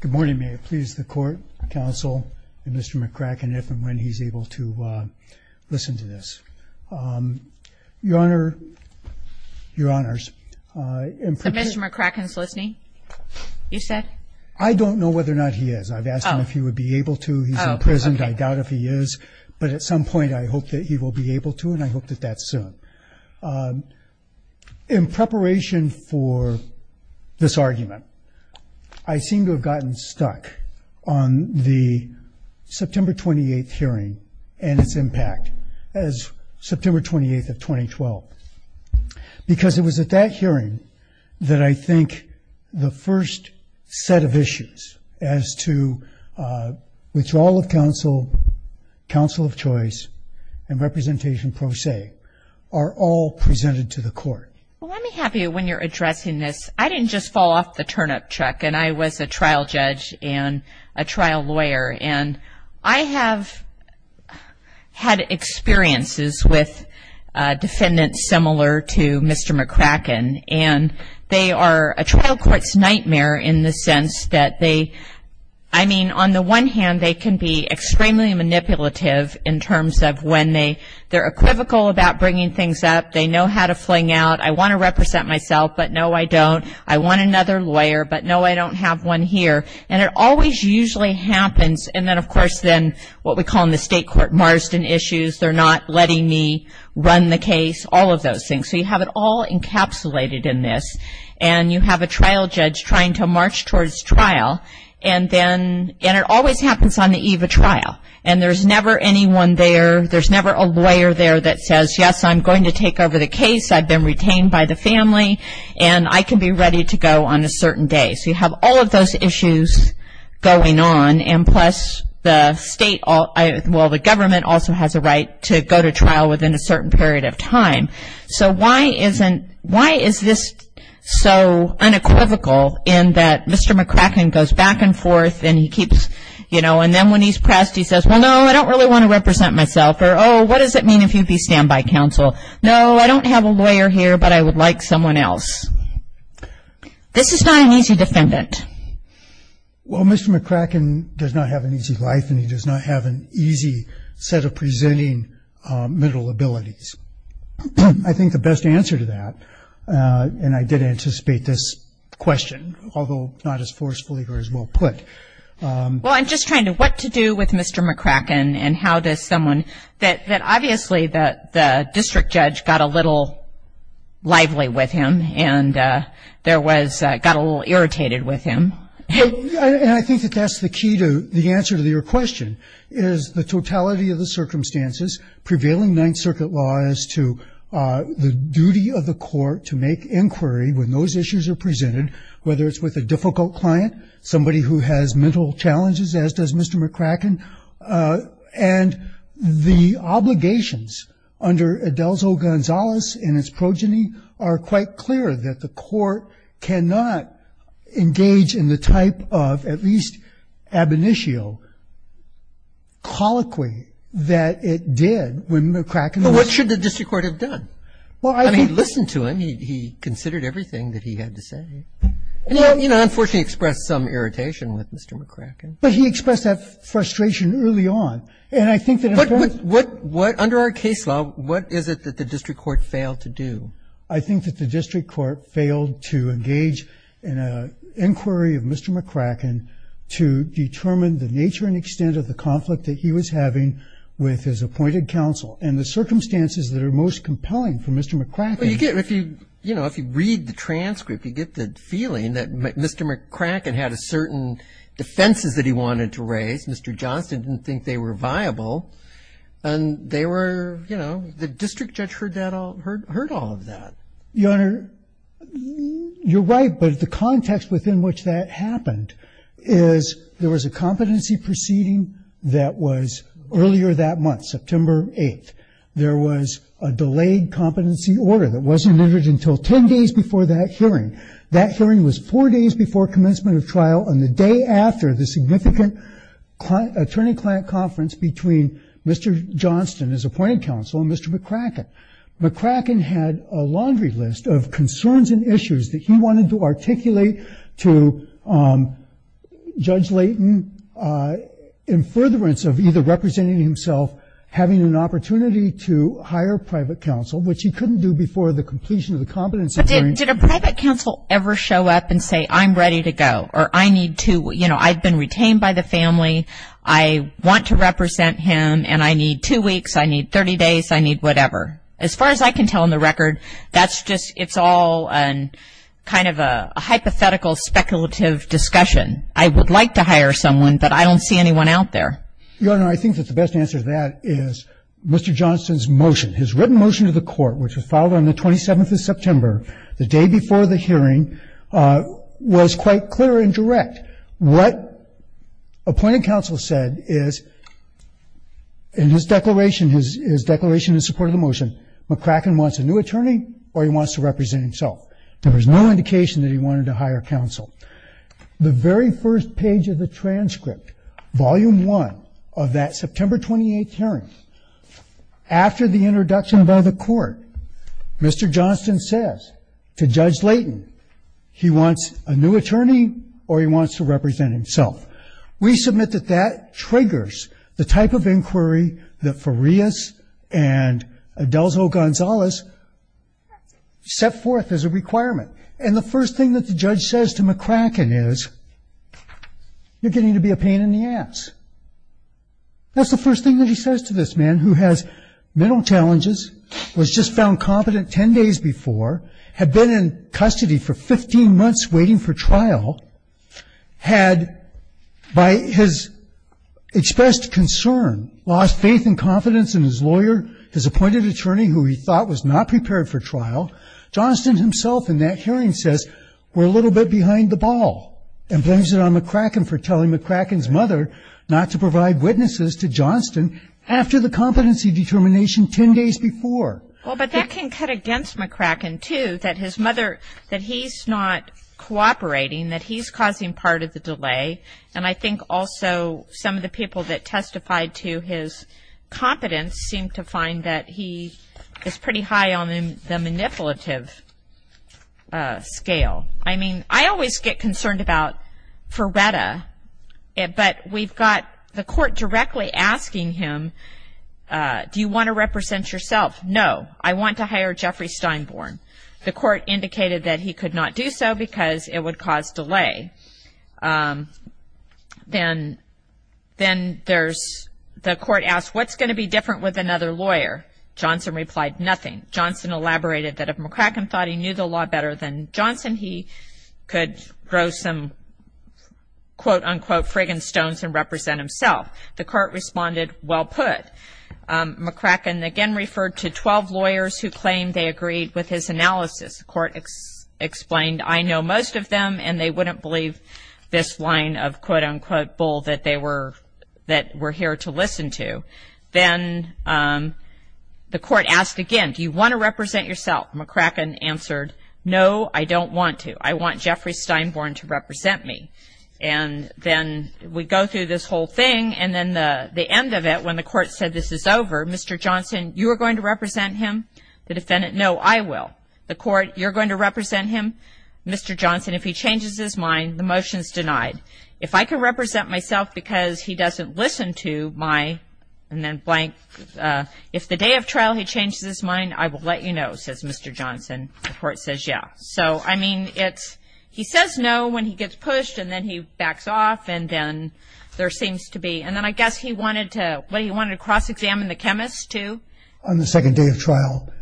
Good morning. May it please the court, counsel, and Mr. McCracken if and when he's able to listen to this. Your Honor, Your Honors, So Mr. McCracken's listening, you said? I don't know whether or not he is. I've asked him if he would be able to. He's in prison. I doubt if he is. But at some point I hope that he will be able to, and I hope that that's soon. In preparation for this argument, I seem to have gotten stuck on the September 28th hearing and its impact as September 28th of 2012. Because it was at that hearing that I think the first set of issues as to withdrawal of counsel, counsel of choice, and representation pro se are all presented to the court. Well, let me have you when you're addressing this. I didn't just fall off the turnip truck. And I was a trial judge and a trial lawyer. And I have had experiences with defendants similar to Mr. McCracken. And they are a trial court's nightmare in the sense that they, I mean, on the one hand, they can be extremely manipulative in terms of when they're equivocal about bringing things up. They know how to fling out, I want to represent myself, but no, I don't. I want another lawyer, but no, I don't have one here. And it always usually happens. And then, of course, then what we call in the state court Marsden issues, they're not letting me run the case, all of those things. So you have it all encapsulated in this. And you have a trial judge trying to march towards trial. And it always happens on the eve of trial. And there's never anyone there, there's never a lawyer there that says, yes, I'm going to take over the case, I've been retained by the family, and I can be ready to go on a certain day. So you have all of those issues going on. And plus the state, well, the government also has a right to go to trial within a certain period of time. So why is this so unequivocal in that Mr. McCracken goes back and forth and he keeps, you know, and then when he's pressed he says, well, no, I don't really want to represent myself. Or, oh, what does it mean if you be standby counsel? No, I don't have a lawyer here, but I would like someone else. This is not an easy defendant. Well, Mr. McCracken does not have an easy life and he does not have an easy set of presenting mental abilities. I think the best answer to that, and I did anticipate this question, although not as forcefully or as well put. Well, I'm just trying to, what to do with Mr. McCracken and how does someone, that obviously the district judge got a little lively with him and there was, got a little irritated with him. And I think that that's the key to the answer to your question is the totality of the circumstances, prevailing Ninth Circuit law as to the duty of the court to make inquiry when those issues are presented, whether it's with a difficult client, somebody who has mental challenges as does Mr. McCracken, and the obligations under Adelso-Gonzalez and its progeny are quite clear that the court cannot engage in the type of at least ab initio colloquy that it did when McCracken was. But what should the district court have done? Well, I think. I mean, he listened to him. He considered everything that he had to say. And he, you know, unfortunately expressed some irritation with Mr. McCracken. But he expressed that frustration early on. And I think that. But what, under our case law, what is it that the district court failed to do? I think that the district court failed to engage in an inquiry of Mr. McCracken to determine the nature and extent of the conflict that he was having with his appointed counsel and the circumstances that are most compelling for Mr. McCracken. Well, you get, if you, you know, if you read the transcript, you get the feeling that Mr. McCracken had a certain defenses that he wanted to raise. Mr. Johnston didn't think they were viable. And they were, you know, the district judge heard that all, heard all of that. Your Honor, you're right. But the context within which that happened is there was a competency proceeding that was earlier that month, September 8th. There was a delayed competency order that wasn't entered until 10 days before that hearing. That hearing was four days before commencement of trial and the day after the significant attorney-client conference between Mr. Johnston, his appointed counsel, and Mr. McCracken. McCracken had a laundry list of concerns and issues that he wanted to articulate to Judge Layton in furtherance of either representing himself, having an opportunity to hire private counsel, which he couldn't do before the completion of the competency hearing. But did a private counsel ever show up and say, I'm ready to go, or I need to, you know, I've been retained by the family, I want to represent him, and I need two weeks, I need 30 days, I need whatever? As far as I can tell in the record, that's just, it's all kind of a hypothetical speculative discussion. I would like to hire someone, but I don't see anyone out there. Your Honor, I think that the best answer to that is Mr. Johnston's motion. His written motion to the court, which was filed on the 27th of September, the day before the hearing, was quite clear and direct. What appointed counsel said is in his declaration, his declaration in support of the motion, McCracken wants a new attorney or he wants to represent himself. There was no indication that he wanted to hire counsel. The very first page of the transcript, Volume 1 of that September 28th hearing, after the introduction by the court, Mr. Johnston says to Judge Layton, he wants a new attorney or he wants to represent himself. We submit that that triggers the type of inquiry that Farias and Adelzo Gonzalez set forth as a requirement. And the first thing that the judge says to McCracken is, you're getting to be a pain in the ass. That's the first thing that he says to this man who has mental challenges, was just found confident 10 days before, had been in custody for 15 months waiting for trial, had by his expressed concern, lost faith and confidence in his lawyer, his appointed attorney who he thought was not prepared for trial, Johnston himself in that hearing says, we're a little bit behind the ball, and blames it on McCracken for telling McCracken's mother not to provide witnesses to Johnston after the competency determination 10 days before. Well, but that can cut against McCracken, too, that his mother, that he's not cooperating, that he's causing part of the delay. And I think also some of the people that testified to his competence seem to find that he is pretty high on the manipulative scale. I mean, I always get concerned about Ferretta, but we've got the court directly asking him, do you want to represent yourself? No, I want to hire Jeffrey Steinborn. The court indicated that he could not do so because it would cause delay. Then the court asked, what's going to be different with another lawyer? Johnston replied, nothing. Johnston elaborated that if McCracken thought he knew the law better than Johnston, he could grow some, quote, unquote, frigging stones and represent himself. The court responded, well put. McCracken again referred to 12 lawyers who claimed they agreed with his analysis. The court explained, I know most of them, and they wouldn't believe this line of, quote, unquote, bull that we're here to listen to. Then the court asked again, do you want to represent yourself? McCracken answered, no, I don't want to. I want Jeffrey Steinborn to represent me. And then we go through this whole thing, and then the end of it, when the court said this is over, Mr. Johnston, you are going to represent him, the defendant, no, I will. The court, you're going to represent him. Mr. Johnston, if he changes his mind, the motion's denied. If I can represent myself because he doesn't listen to my, and then blank, if the day of trial he changes his mind, I will let you know, says Mr. Johnston. The court says, yeah. So, I mean, it's, he says no when he gets pushed, and then he backs off, and then there seems to be, and then I guess he wanted to, what, he wanted to cross-examine the chemist too? On the second day of trial,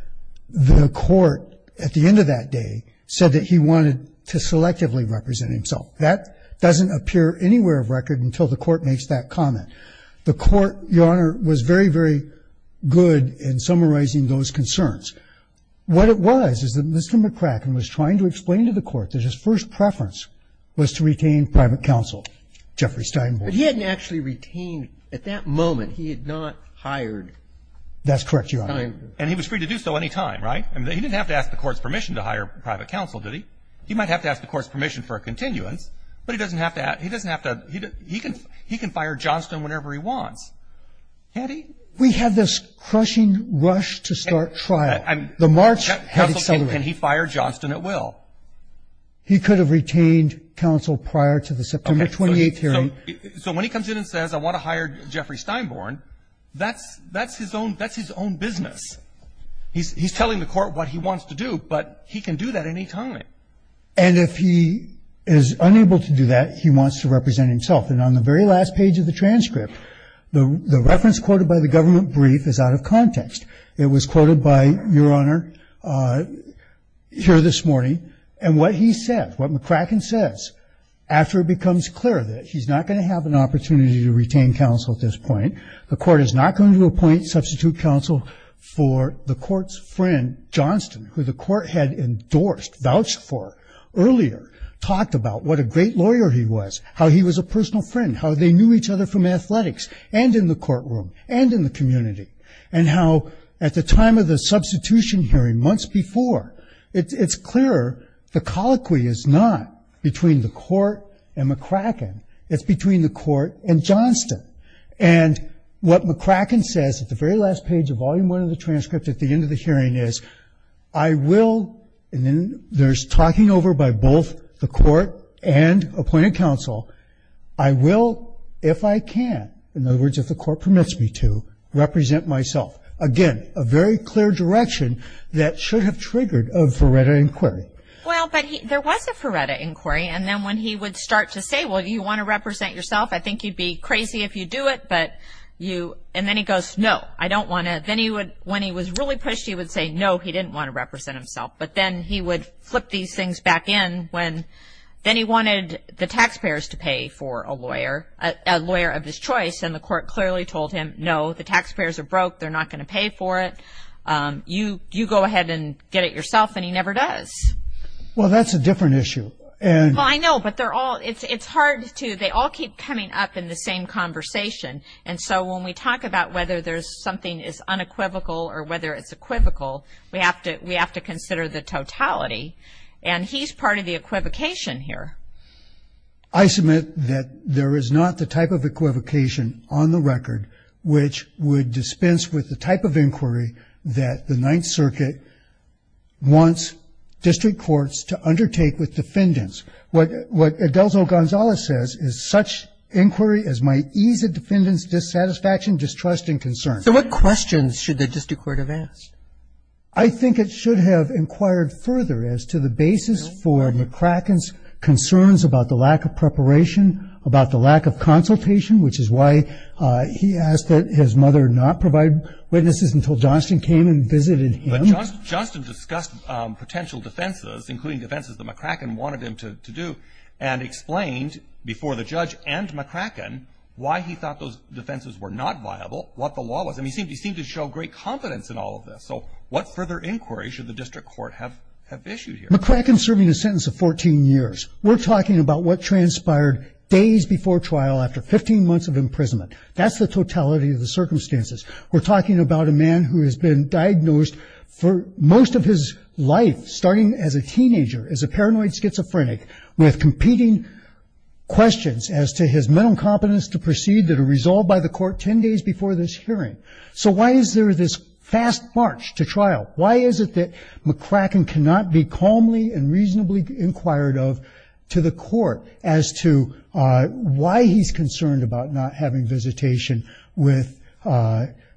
the court, at the end of that day, said that he wanted to selectively represent himself. That doesn't appear anywhere of record until the court makes that comment. The court, Your Honor, was very, very good in summarizing those concerns. What it was is that Mr. McCracken was trying to explain to the court that his first preference was to retain private counsel, Jeffrey Steinborn. But he hadn't actually retained, at that moment, he had not hired. That's correct, Your Honor. And he was free to do so any time, right? I mean, he didn't have to ask the court's permission to hire private counsel, did he? He might have to ask the court's permission for a continuance, but he doesn't have to, he doesn't have to, he can, he can fire Johnston whenever he wants. Can't he? We had this crushing rush to start trial. The march had accelerated. Counsel said, can he fire Johnston at will? He could have retained counsel prior to the September 28th hearing. So when he comes in and says, I want to hire Jeffrey Steinborn, that's his own business. He's telling the court what he wants to do, but he can do that any time. And if he is unable to do that, he wants to represent himself. And on the very last page of the transcript, the reference quoted by the government brief is out of context. It was quoted by Your Honor here this morning, and what he said, what McCracken says, after it becomes clear that he's not going to have an opportunity to retain counsel at this point, the court is not going to appoint substitute counsel for the court's friend, Johnston, who the court had endorsed, vouched for earlier, talked about what a great lawyer he was, how he was a personal friend, how they knew each other from athletics, and in the courtroom, and in the community, and how at the time of the substitution hearing, months before, it's clearer, the colloquy is not between the court and McCracken. It's between the court and Johnston. And what McCracken says at the very last page of Volume I of the transcript at the end of the hearing is, I will, and then there's talking over by both the court and appointed counsel, I will, if I can, in other words, if the court permits me to, represent myself. Again, a very clear direction that should have triggered a Feretta inquiry. Well, but there was a Feretta inquiry, and then when he would start to say, well, do you want to represent yourself? I think you'd be crazy if you do it, but you, and then he goes, no, I don't want to. Then he would, when he was really pushed, he would say, no, he didn't want to represent himself. But then he would flip these things back in when, then he wanted the taxpayers to pay for a lawyer, a lawyer of his choice, and the court clearly told him, no, the taxpayers are broke, they're not going to pay for it. You go ahead and get it yourself, and he never does. Well, that's a different issue. I know, but they're all, it's hard to, they all keep coming up in the same conversation. And so when we talk about whether there's something is unequivocal or whether it's equivocal, we have to consider the totality. And he's part of the equivocation here. I submit that there is not the type of equivocation on the record which would dispense with the type of inquiry that the Ninth Circuit wants district courts to undertake with defendants. What Adelzo Gonzalez says is, such inquiry as might ease a defendant's dissatisfaction, distrust, and concern. So what questions should the district court have asked? I think it should have inquired further as to the basis for McCracken's concerns about the lack of preparation, about the lack of consultation, which is why he asked that his mother not provide witnesses until Johnston came and visited him. But Johnston discussed potential defenses, including defenses that McCracken wanted him to do, and explained before the judge and McCracken why he thought those defenses were not viable, what the law was. And he seemed to show great confidence in all of this. So what further inquiry should the district court have issued here? McCracken's serving a sentence of 14 years. We're talking about what transpired days before trial after 15 months of imprisonment. That's the totality of the circumstances. We're talking about a man who has been diagnosed for most of his life, starting as a teenager, as a paranoid schizophrenic, with competing questions as to his mental incompetence to proceed that are resolved by the court 10 days before this hearing. So why is there this fast march to trial? Why is it that McCracken cannot be calmly and reasonably inquired of to the court as to why he's concerned about not having visitation with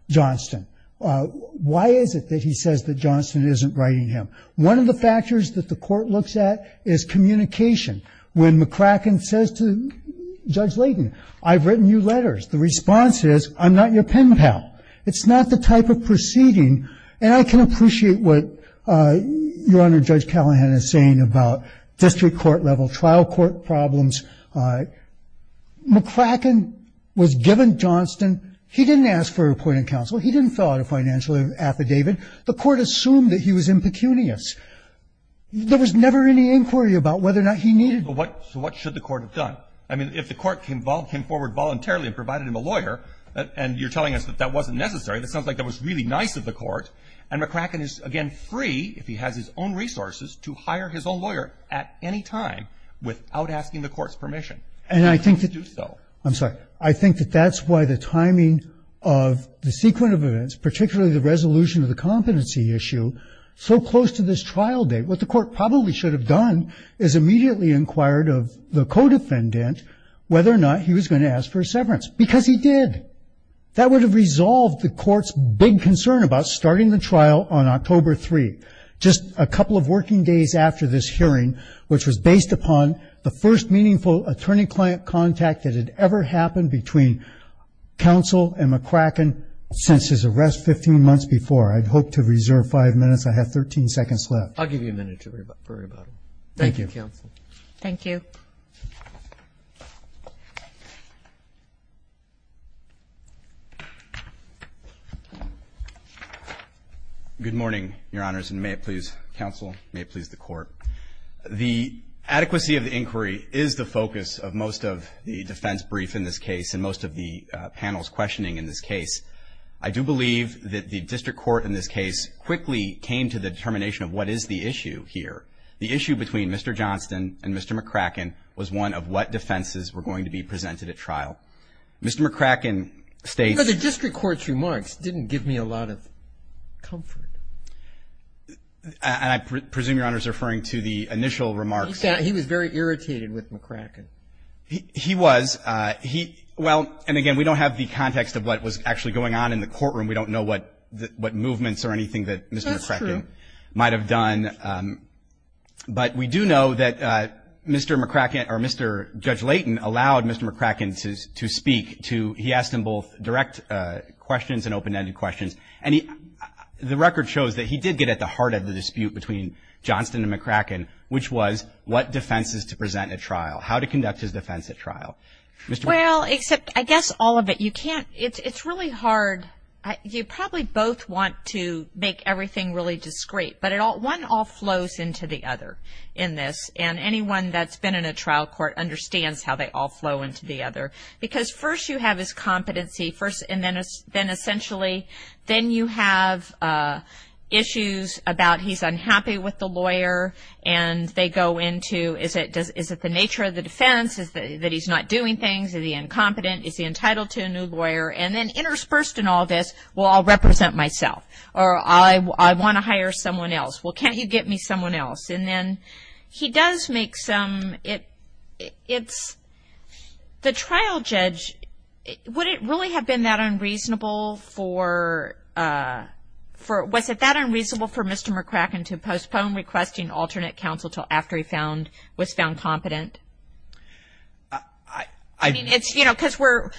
Johnston? Why is it that he says that Johnston isn't writing him? One of the factors that the court looks at is communication. When McCracken says to Judge Layden, I've written you letters, the response is, I'm not your pen pal. It's not the type of proceeding. And I can appreciate what Your Honor Judge Callahan is saying about district court level trial court problems. McCracken was given Johnston. He didn't ask for a report in counsel. He didn't fill out a financial affidavit. The court assumed that he was impecunious. There was never any inquiry about whether or not he needed it. But what should the court have done? I mean, if the court came forward voluntarily and provided him a lawyer, and you're telling us that that wasn't necessary, that sounds like that was really nice of the court. And McCracken is, again, free, if he has his own resources, to hire his own lawyer at any time without asking the court's permission. And he would do so. I'm sorry. I think that that's why the timing of the sequent of events, particularly the resolution of the competency issue, so close to this trial date, what the court probably should have done is immediately inquired of the co-defendant whether or not he was going to ask for a severance. Because he did. That would have resolved the court's big concern about starting the trial on October 3, just a couple of working days after this hearing, which was based upon the first meaningful attorney-client contact that had ever happened between counsel and counsel. I'd hope to reserve five minutes. I have 13 seconds left. I'll give you a minute to worry about it. Thank you. Thank you, counsel. Thank you. Good morning, Your Honors, and may it please counsel, may it please the court. The adequacy of the inquiry is the focus of most of the defense brief in this case and most of the panel's questioning in this case. I do believe that the district court in this case quickly came to the determination of what is the issue here. The issue between Mr. Johnston and Mr. McCracken was one of what defenses were going to be presented at trial. Mr. McCracken states the district court's remarks didn't give me a lot of comfort. And I presume, Your Honors, referring to the initial remarks. He was very irritated with McCracken. He was. Well, and, again, we don't have the context of what was actually going on in the courtroom. We don't know what movements or anything that Mr. McCracken might have done. That's true. But we do know that Mr. McCracken or Mr. Judge Layton allowed Mr. McCracken to speak to, he asked him both direct questions and open-ended questions. And the record shows that he did get at the heart of the dispute between Johnston and McCracken, which was what defenses to present at trial, how to conduct his defense at trial. Well, except, I guess, all of it. You can't, it's really hard, you probably both want to make everything really discreet. But one all flows into the other in this. And anyone that's been in a trial court understands how they all flow into the other. Because first you have his competency, and then essentially then you have issues about he's unhappy with the lawyer and they go into is it the nature of the lawyer that he's not doing things, is he incompetent, is he entitled to a new lawyer. And then interspersed in all this, well, I'll represent myself. Or I want to hire someone else. Well, can't you get me someone else? And then he does make some, it's, the trial judge, would it really have been that unreasonable for, was it that unreasonable for Mr. McCracken to postpone requesting alternate counsel until after he was found competent? I mean, it's, you know, because we're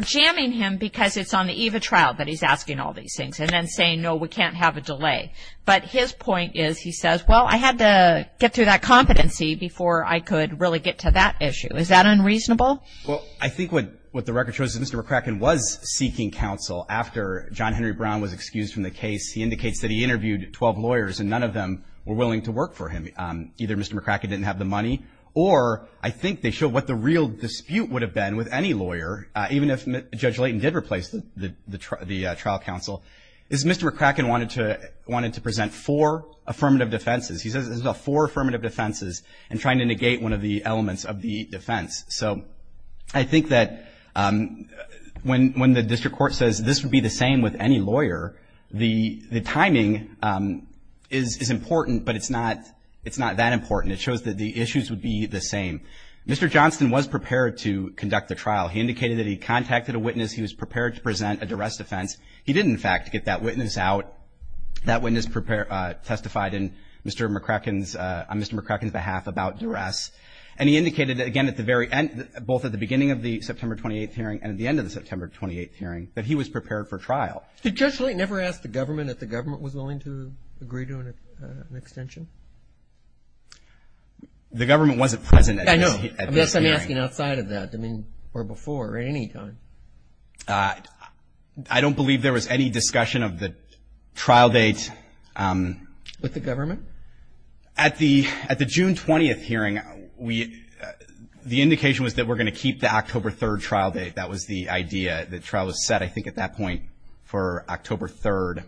jamming him because it's on the eve of trial that he's asking all these things and then saying, no, we can't have a delay. But his point is, he says, well, I had to get through that competency before I could really get to that issue. Is that unreasonable? Well, I think what the record shows is Mr. McCracken was seeking counsel after John Henry Brown was excused from the case. He indicates that he interviewed 12 lawyers and none of them were willing to work for him. Either Mr. McCracken didn't have the money or I think they showed what the real dispute would have been with any lawyer, even if Judge Layton did replace the trial counsel, is Mr. McCracken wanted to present four affirmative defenses. He says there's about four affirmative defenses in trying to negate one of the elements of the defense. So I think that when the district court says this would be the same with any defense, the timing is important, but it's not that important. It shows that the issues would be the same. Mr. Johnston was prepared to conduct the trial. He indicated that he contacted a witness. He was prepared to present a duress defense. He didn't, in fact, get that witness out. That witness testified in Mr. McCracken's – on Mr. McCracken's behalf about duress. And he indicated, again, at the very end, both at the beginning of the September 28th hearing and at the end of the September 28th hearing, that he was prepared for trial. Did Judge Layton ever ask the government that the government was willing to agree to an extension? The government wasn't present at this hearing. I know. I guess I'm asking outside of that, I mean, or before, or at any time. I don't believe there was any discussion of the trial date. With the government? At the June 20th hearing, we – the indication was that we're going to keep the October 3rd trial date. That was the idea. The trial was set, I think, at that point for October 3rd.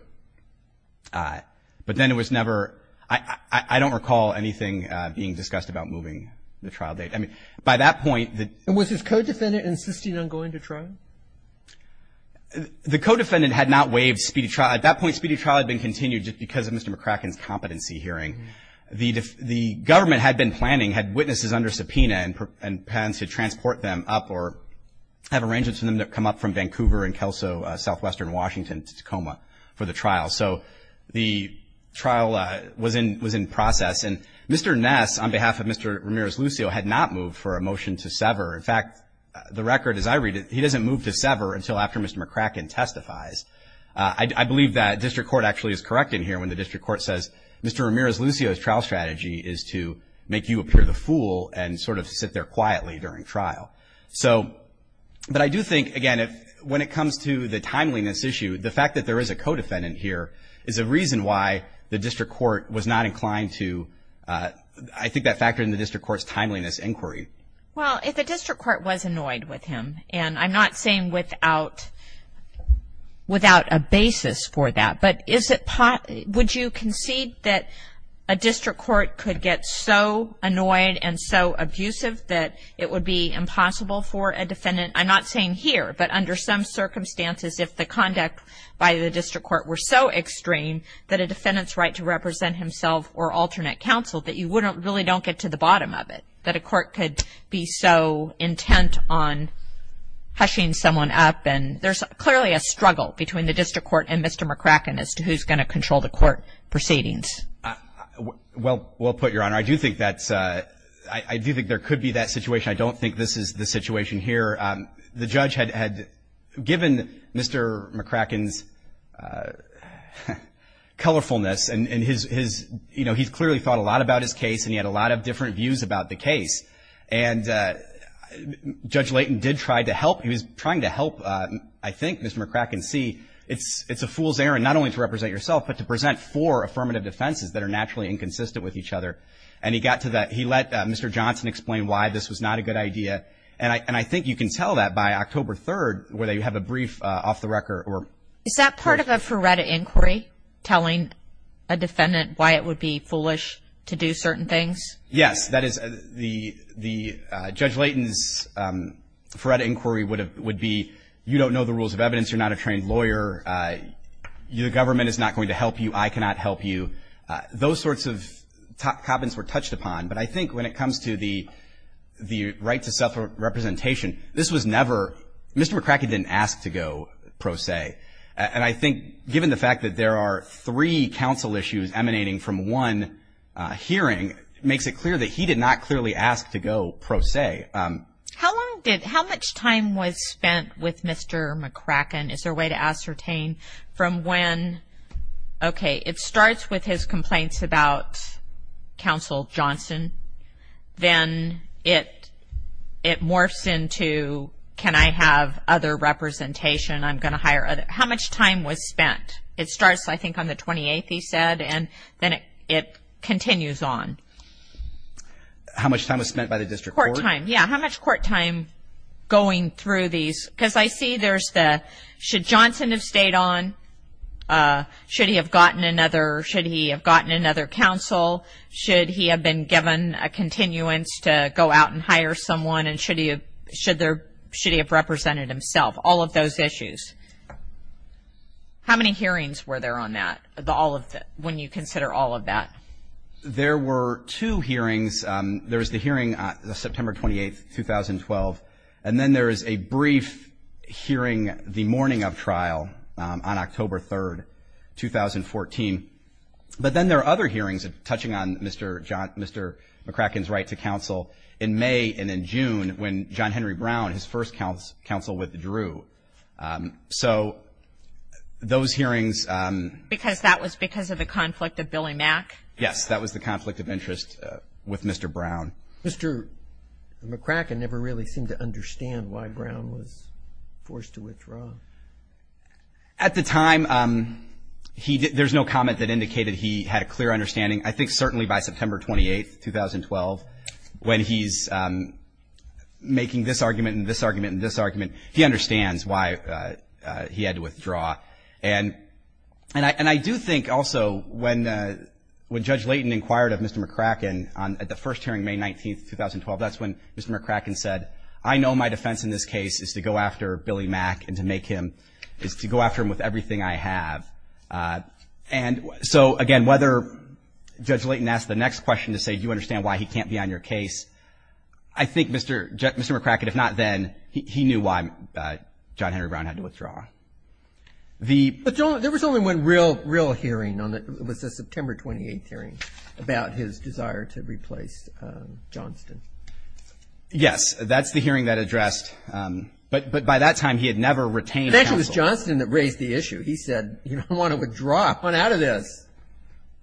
But then it was never – I don't recall anything being discussed about moving the trial date. I mean, by that point – And was his co-defendant insisting on going to trial? The co-defendant had not waived speedy trial. At that point, speedy trial had been continued just because of Mr. McCracken's competency hearing. The government had been planning, had witnesses under subpoena and plans to transport them up or have arrangements for them to come up from Vancouver and Kelso, southwestern Washington, to Tacoma for the trial. So the trial was in process. And Mr. Ness, on behalf of Mr. Ramirez-Lucio, had not moved for a motion to sever. In fact, the record, as I read it, he doesn't move to sever until after Mr. McCracken testifies. I believe that district court actually is correct in here when the district court says, Mr. Ramirez-Lucio's trial strategy is to make you appear the fool and sort of appear quietly during trial. So – but I do think, again, when it comes to the timeliness issue, the fact that there is a co-defendant here is a reason why the district court was not inclined to – I think that factored in the district court's timeliness inquiry. Well, if the district court was annoyed with him, and I'm not saying without a basis for that, but is it – would you concede that a district court could get so that it would be impossible for a defendant – I'm not saying here, but under some circumstances, if the conduct by the district court were so extreme that a defendant's right to represent himself or alternate counsel, that you wouldn't – really don't get to the bottom of it, that a court could be so intent on hushing someone up? And there's clearly a struggle between the district court and Mr. McCracken as to who's going to control the court proceedings. Well put, Your Honor. I do think that's – I do think there could be that situation. I don't think this is the situation here. The judge had given Mr. McCracken's colorfulness and his – you know, he's clearly thought a lot about his case, and he had a lot of different views about the case. And Judge Layton did try to help. He was trying to help, I think, Mr. McCracken see it's a fool's errand not only to inconsistent with each other. And he got to that – he let Mr. Johnson explain why this was not a good idea. And I think you can tell that by October 3rd, where they have a brief off the record. Is that part of a FRERETA inquiry, telling a defendant why it would be foolish to do certain things? Yes. That is the – Judge Layton's FRERETA inquiry would be, you don't know the rules of evidence, you're not a trained lawyer, the government is not going to help you, I cannot help you. Those sorts of comments were touched upon. But I think when it comes to the right to self-representation, this was never – Mr. McCracken didn't ask to go, per se. And I think given the fact that there are three counsel issues emanating from one hearing, it makes it clear that he did not clearly ask to go, per se. How long did – how much time was spent with Mr. McCracken? Is there a way to ascertain from when? Okay, it starts with his complaints about Counsel Johnson. Then it morphs into, can I have other representation, I'm going to hire other – how much time was spent? It starts, I think, on the 28th, he said, and then it continues on. How much time was spent by the district court? Court time, yeah. How much court time going through these? Because I see there's the, should Johnson have stayed on? Should he have gotten another – should he have gotten another counsel? Should he have been given a continuance to go out and hire someone? And should he have represented himself? All of those issues. How many hearings were there on that, when you consider all of that? There were two hearings. There was the hearing on September 28th, 2012, and then there is a brief hearing the morning of trial on October 3rd, 2014. But then there are other hearings touching on Mr. McCracken's right to counsel in May and in June when John Henry Brown, his first counsel, withdrew. So those hearings – Because that was because of the conflict of Billy Mack? Yes, that was the conflict of interest with Mr. Brown. Mr. McCracken never really seemed to understand why Brown was forced to withdraw. At the time, there's no comment that indicated he had a clear understanding. I think certainly by September 28th, 2012, when he's making this argument and this argument and this argument, he understands why he had to withdraw. And I do think also when Judge Layton inquired of Mr. McCracken at the first hearing, May 19th, 2012, that's when Mr. McCracken said, I know my defense in this case is to go after Billy Mack and to make him – is to go after him with everything I have. And so, again, whether Judge Layton asked the next question to say, do you understand why he can't be on your case, I think Mr. McCracken, if not then, he knew why John Henry Brown had to withdraw. But there was only one real hearing on the – it was the September 28th hearing about his desire to replace Johnston. Yes. That's the hearing that addressed – but by that time, he had never retained counsel. It actually was Johnston that raised the issue. He said, you don't want to withdraw. I want out of this.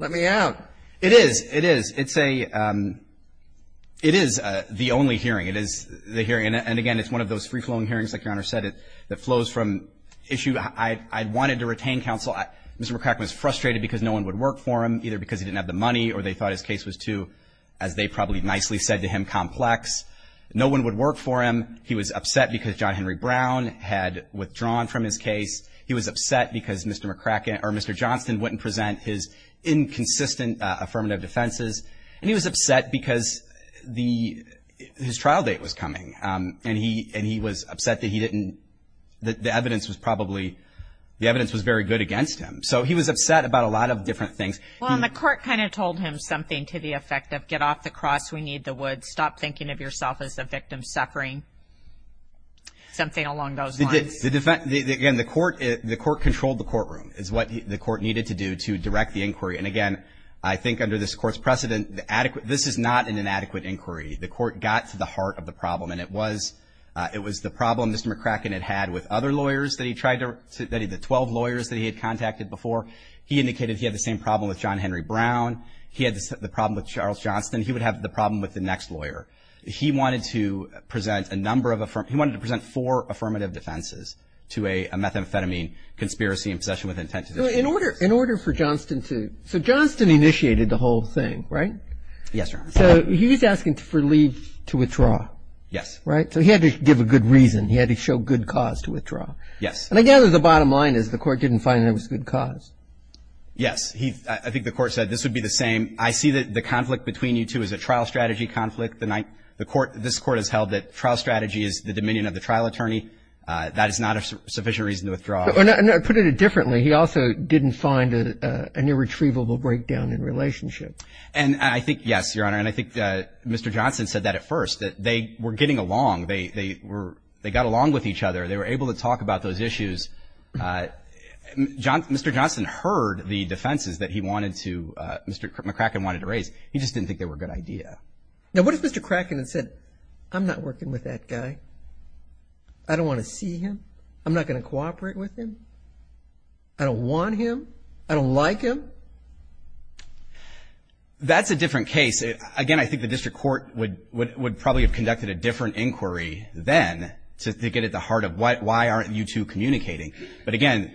Let me out. It is. It is. It's a – it is the only hearing. It is the hearing. And, again, it's one of those free-flowing hearings, like Your Honor said, that flows from issue. I wanted to retain counsel. Mr. McCracken was frustrated because no one would work for him, either because he didn't have the money or they thought his case was too, as they probably nicely said to him, complex. No one would work for him. He was upset because John Henry Brown had withdrawn from his case. He was upset because Mr. McCracken – or Mr. Johnston wouldn't present his inconsistent affirmative defenses. And he was upset because the – his trial date was coming, and he was upset that he didn't – that the evidence was probably – the evidence was very good against him. So he was upset about a lot of different things. Well, and the court kind of told him something to the effect of get off the cross, we need the woods, stop thinking of yourself as a victim suffering, something along those lines. The defense – again, the court controlled the courtroom, is what the court needed to do to direct the inquiry. And again, I think under this Court's precedent, the adequate – this is not an inadequate inquiry. The court got to the heart of the problem, and it was – it was the problem Mr. McCracken had had with other lawyers that he tried to – the 12 lawyers that he had contacted before. He indicated he had the same problem with John Henry Brown. He had the problem with Charles Johnston. He would have the problem with the next lawyer. He wanted to present a number of – he wanted to present four affirmative defenses to a methamphetamine conspiracy in possession with intent to destroy the case. So in order – in order for Johnston to – so Johnston initiated the whole thing, right? Yes, Your Honor. So he's asking for leave to withdraw. Yes. Right? So he had to give a good reason. He had to show good cause to withdraw. Yes. And I gather the bottom line is the court didn't find there was good cause. Yes. He – I think the court said this would be the same. I see that the conflict between you two is a trial strategy conflict. attorney. That is not a sufficient reason to withdraw. And I put it differently. He also didn't find an irretrievable breakdown in relationship. And I think, yes, Your Honor, and I think Mr. Johnston said that at first, that they were getting along. They were – they got along with each other. They were able to talk about those issues. Mr. Johnston heard the defenses that he wanted to – Mr. McCracken wanted to raise. He just didn't think they were a good idea. Now, what if Mr. Cracken had said, I'm not working with that guy? I don't want to see him. I'm not going to cooperate with him. I don't want him. I don't like him. That's a different case. Again, I think the district court would probably have conducted a different inquiry then to get at the heart of why aren't you two communicating. But, again,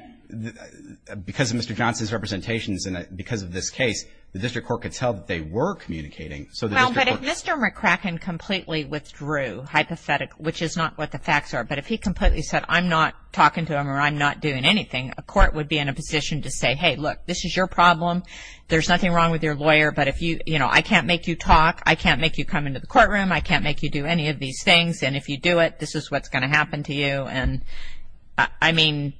because of Mr. Johnston's representations and because of this case, the district court could tell that they were communicating. Well, but if Mr. McCracken completely withdrew, hypothetically, which is not what the facts are, but if he completely said, I'm not talking to him or I'm not doing anything, a court would be in a position to say, hey, look, this is your problem. There's nothing wrong with your lawyer, but if you – you know, I can't make you talk. I can't make you come into the courtroom. I can't make you do any of these things, and if you do it, this is what's going to happen to you. And, I mean,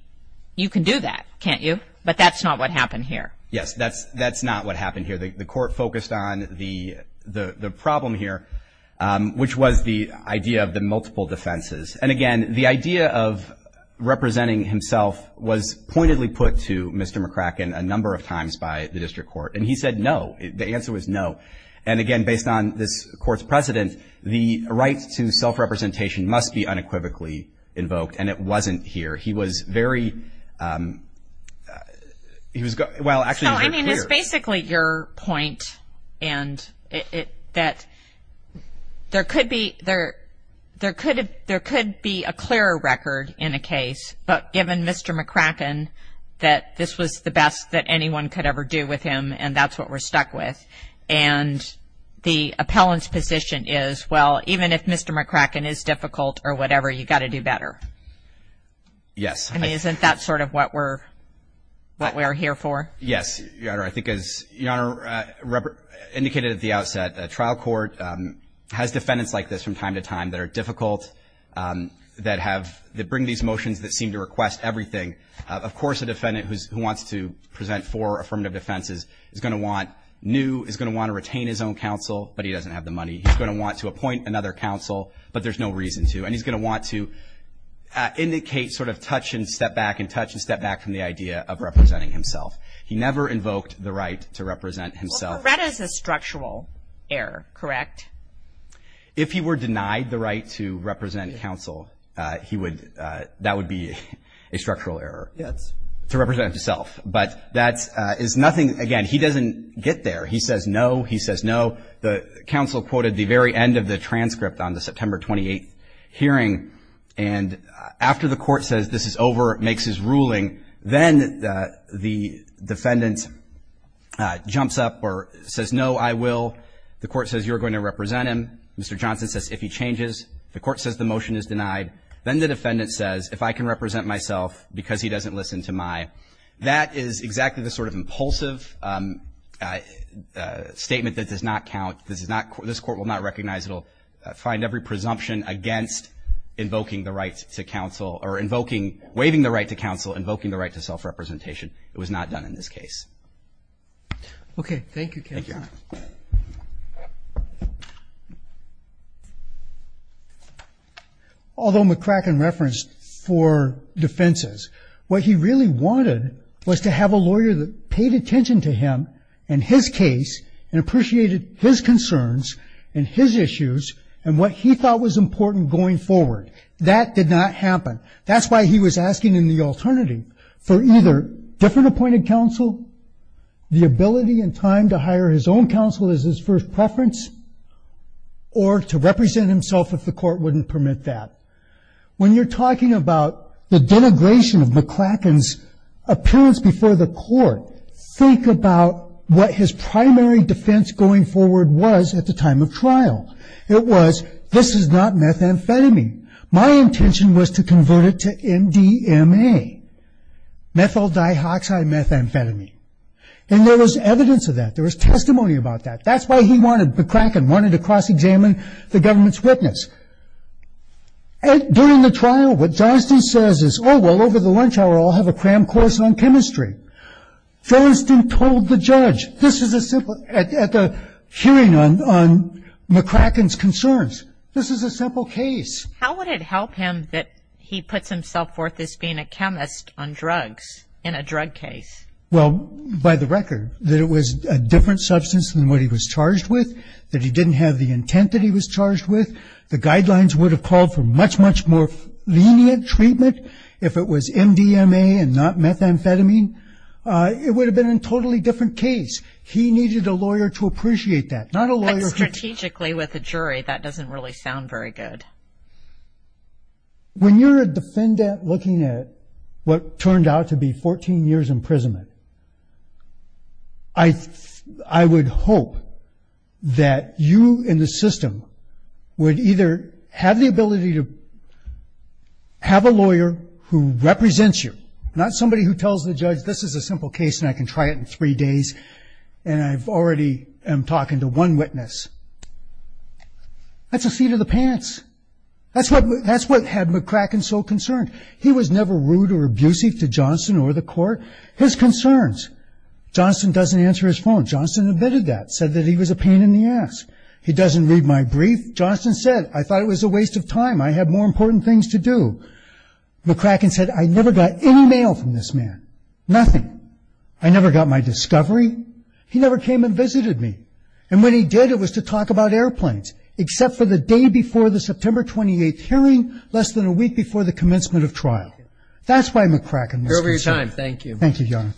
you can do that, can't you? But that's not what happened here. Yes, that's not what happened here. The court focused on the problem here, which was the idea of the multiple defenses. And, again, the idea of representing himself was pointedly put to Mr. McCracken a number of times by the district court, and he said no. The answer was no. And, again, based on this court's precedent, the right to self-representation must be unequivocally invoked, and it wasn't here. He was very – well, actually, he was very clear. It was basically your point, and that there could be a clearer record in a case, but given Mr. McCracken, that this was the best that anyone could ever do with him, and that's what we're stuck with, and the appellant's position is, well, even if Mr. McCracken is difficult or whatever, you've got to do better. Yes. I mean, isn't that sort of what we're here for? Yes, Your Honor. I think as Your Honor indicated at the outset, a trial court has defendants like this from time to time that are difficult, that have – that bring these motions that seem to request everything. Of course, a defendant who wants to present four affirmative defenses is going to want new, is going to want to retain his own counsel, but he doesn't have the money. He's going to want to appoint another counsel, but there's no reason to, and he's going to want to indicate sort of touch and step back and touch and step back from the idea of representing himself. He never invoked the right to represent himself. Well, Beretta's a structural error, correct? If he were denied the right to represent counsel, he would – that would be a structural error. Yes. To represent himself, but that is nothing – again, he doesn't get there. He says no. He says no. The counsel quoted the very end of the transcript on the September 28th hearing, and after the court says this is over, makes his ruling, then the defendant jumps up or says no, I will. The court says you're going to represent him. Mr. Johnson says if he changes. The court says the motion is denied. Then the defendant says if I can represent myself because he doesn't listen to my. That is exactly the sort of impulsive statement that does not count. This is not – this court will not recognize it. invoking the right to counsel or invoking – waiving the right to counsel, invoking the right to self-representation. It was not done in this case. Okay, thank you, counsel. Thank you. Although McCracken referenced four defenses, what he really wanted was to have a lawyer that paid attention to him and his case and appreciated his concerns and his issues and what he thought was important going forward. That did not happen. That's why he was asking in the alternative for either different appointed counsel, the ability and time to hire his own counsel as his first preference, or to represent himself if the court wouldn't permit that. When you're talking about the denigration of McCracken's appearance before the court, think about what his primary defense going forward was at the time of trial. It was, this is not methamphetamine. My intention was to convert it to MDMA, methyl dioxide methamphetamine. And there was evidence of that. There was testimony about that. That's why he wanted – McCracken wanted to cross-examine the government's witness. During the trial, what Johnston says is, I'll have a cram course on chemistry. Johnston told the judge, this is a simple, at the hearing on McCracken's concerns, this is a simple case. How would it help him that he puts himself forth as being a chemist on drugs in a drug case? Well, by the record, that it was a different substance than what he was charged with, that he didn't have the intent that he was charged with. The guidelines would have called for much, much more lenient treatment if it was MDMA and not methamphetamine. It would have been a totally different case. He needed a lawyer to appreciate that, not a lawyer. Strategically, with a jury, that doesn't really sound very good. When you're a defendant looking at what turned out to be 14 years imprisonment, I would hope that you in the system would either have the ability to have a lawyer who represents you, not somebody who tells the judge, this is a simple case and I can try it in three days and I already am talking to one witness. That's a seat of the pants. That's what had McCracken so concerned. He was never rude or abusive to Johnston or the court. His concerns, Johnston doesn't answer his phone. Johnston admitted that, said that he was a pain in the ass. He doesn't read my brief. Johnston said, I thought it was a waste of time. I had more important things to do. McCracken said, I never got any mail from this man, nothing. I never got my discovery. He never came and visited me. And when he did, it was to talk about airplanes, except for the day before the September 28th hearing, less than a week before the commencement of trial. That's why McCracken was concerned. Thank you. Thank you, Your Honor.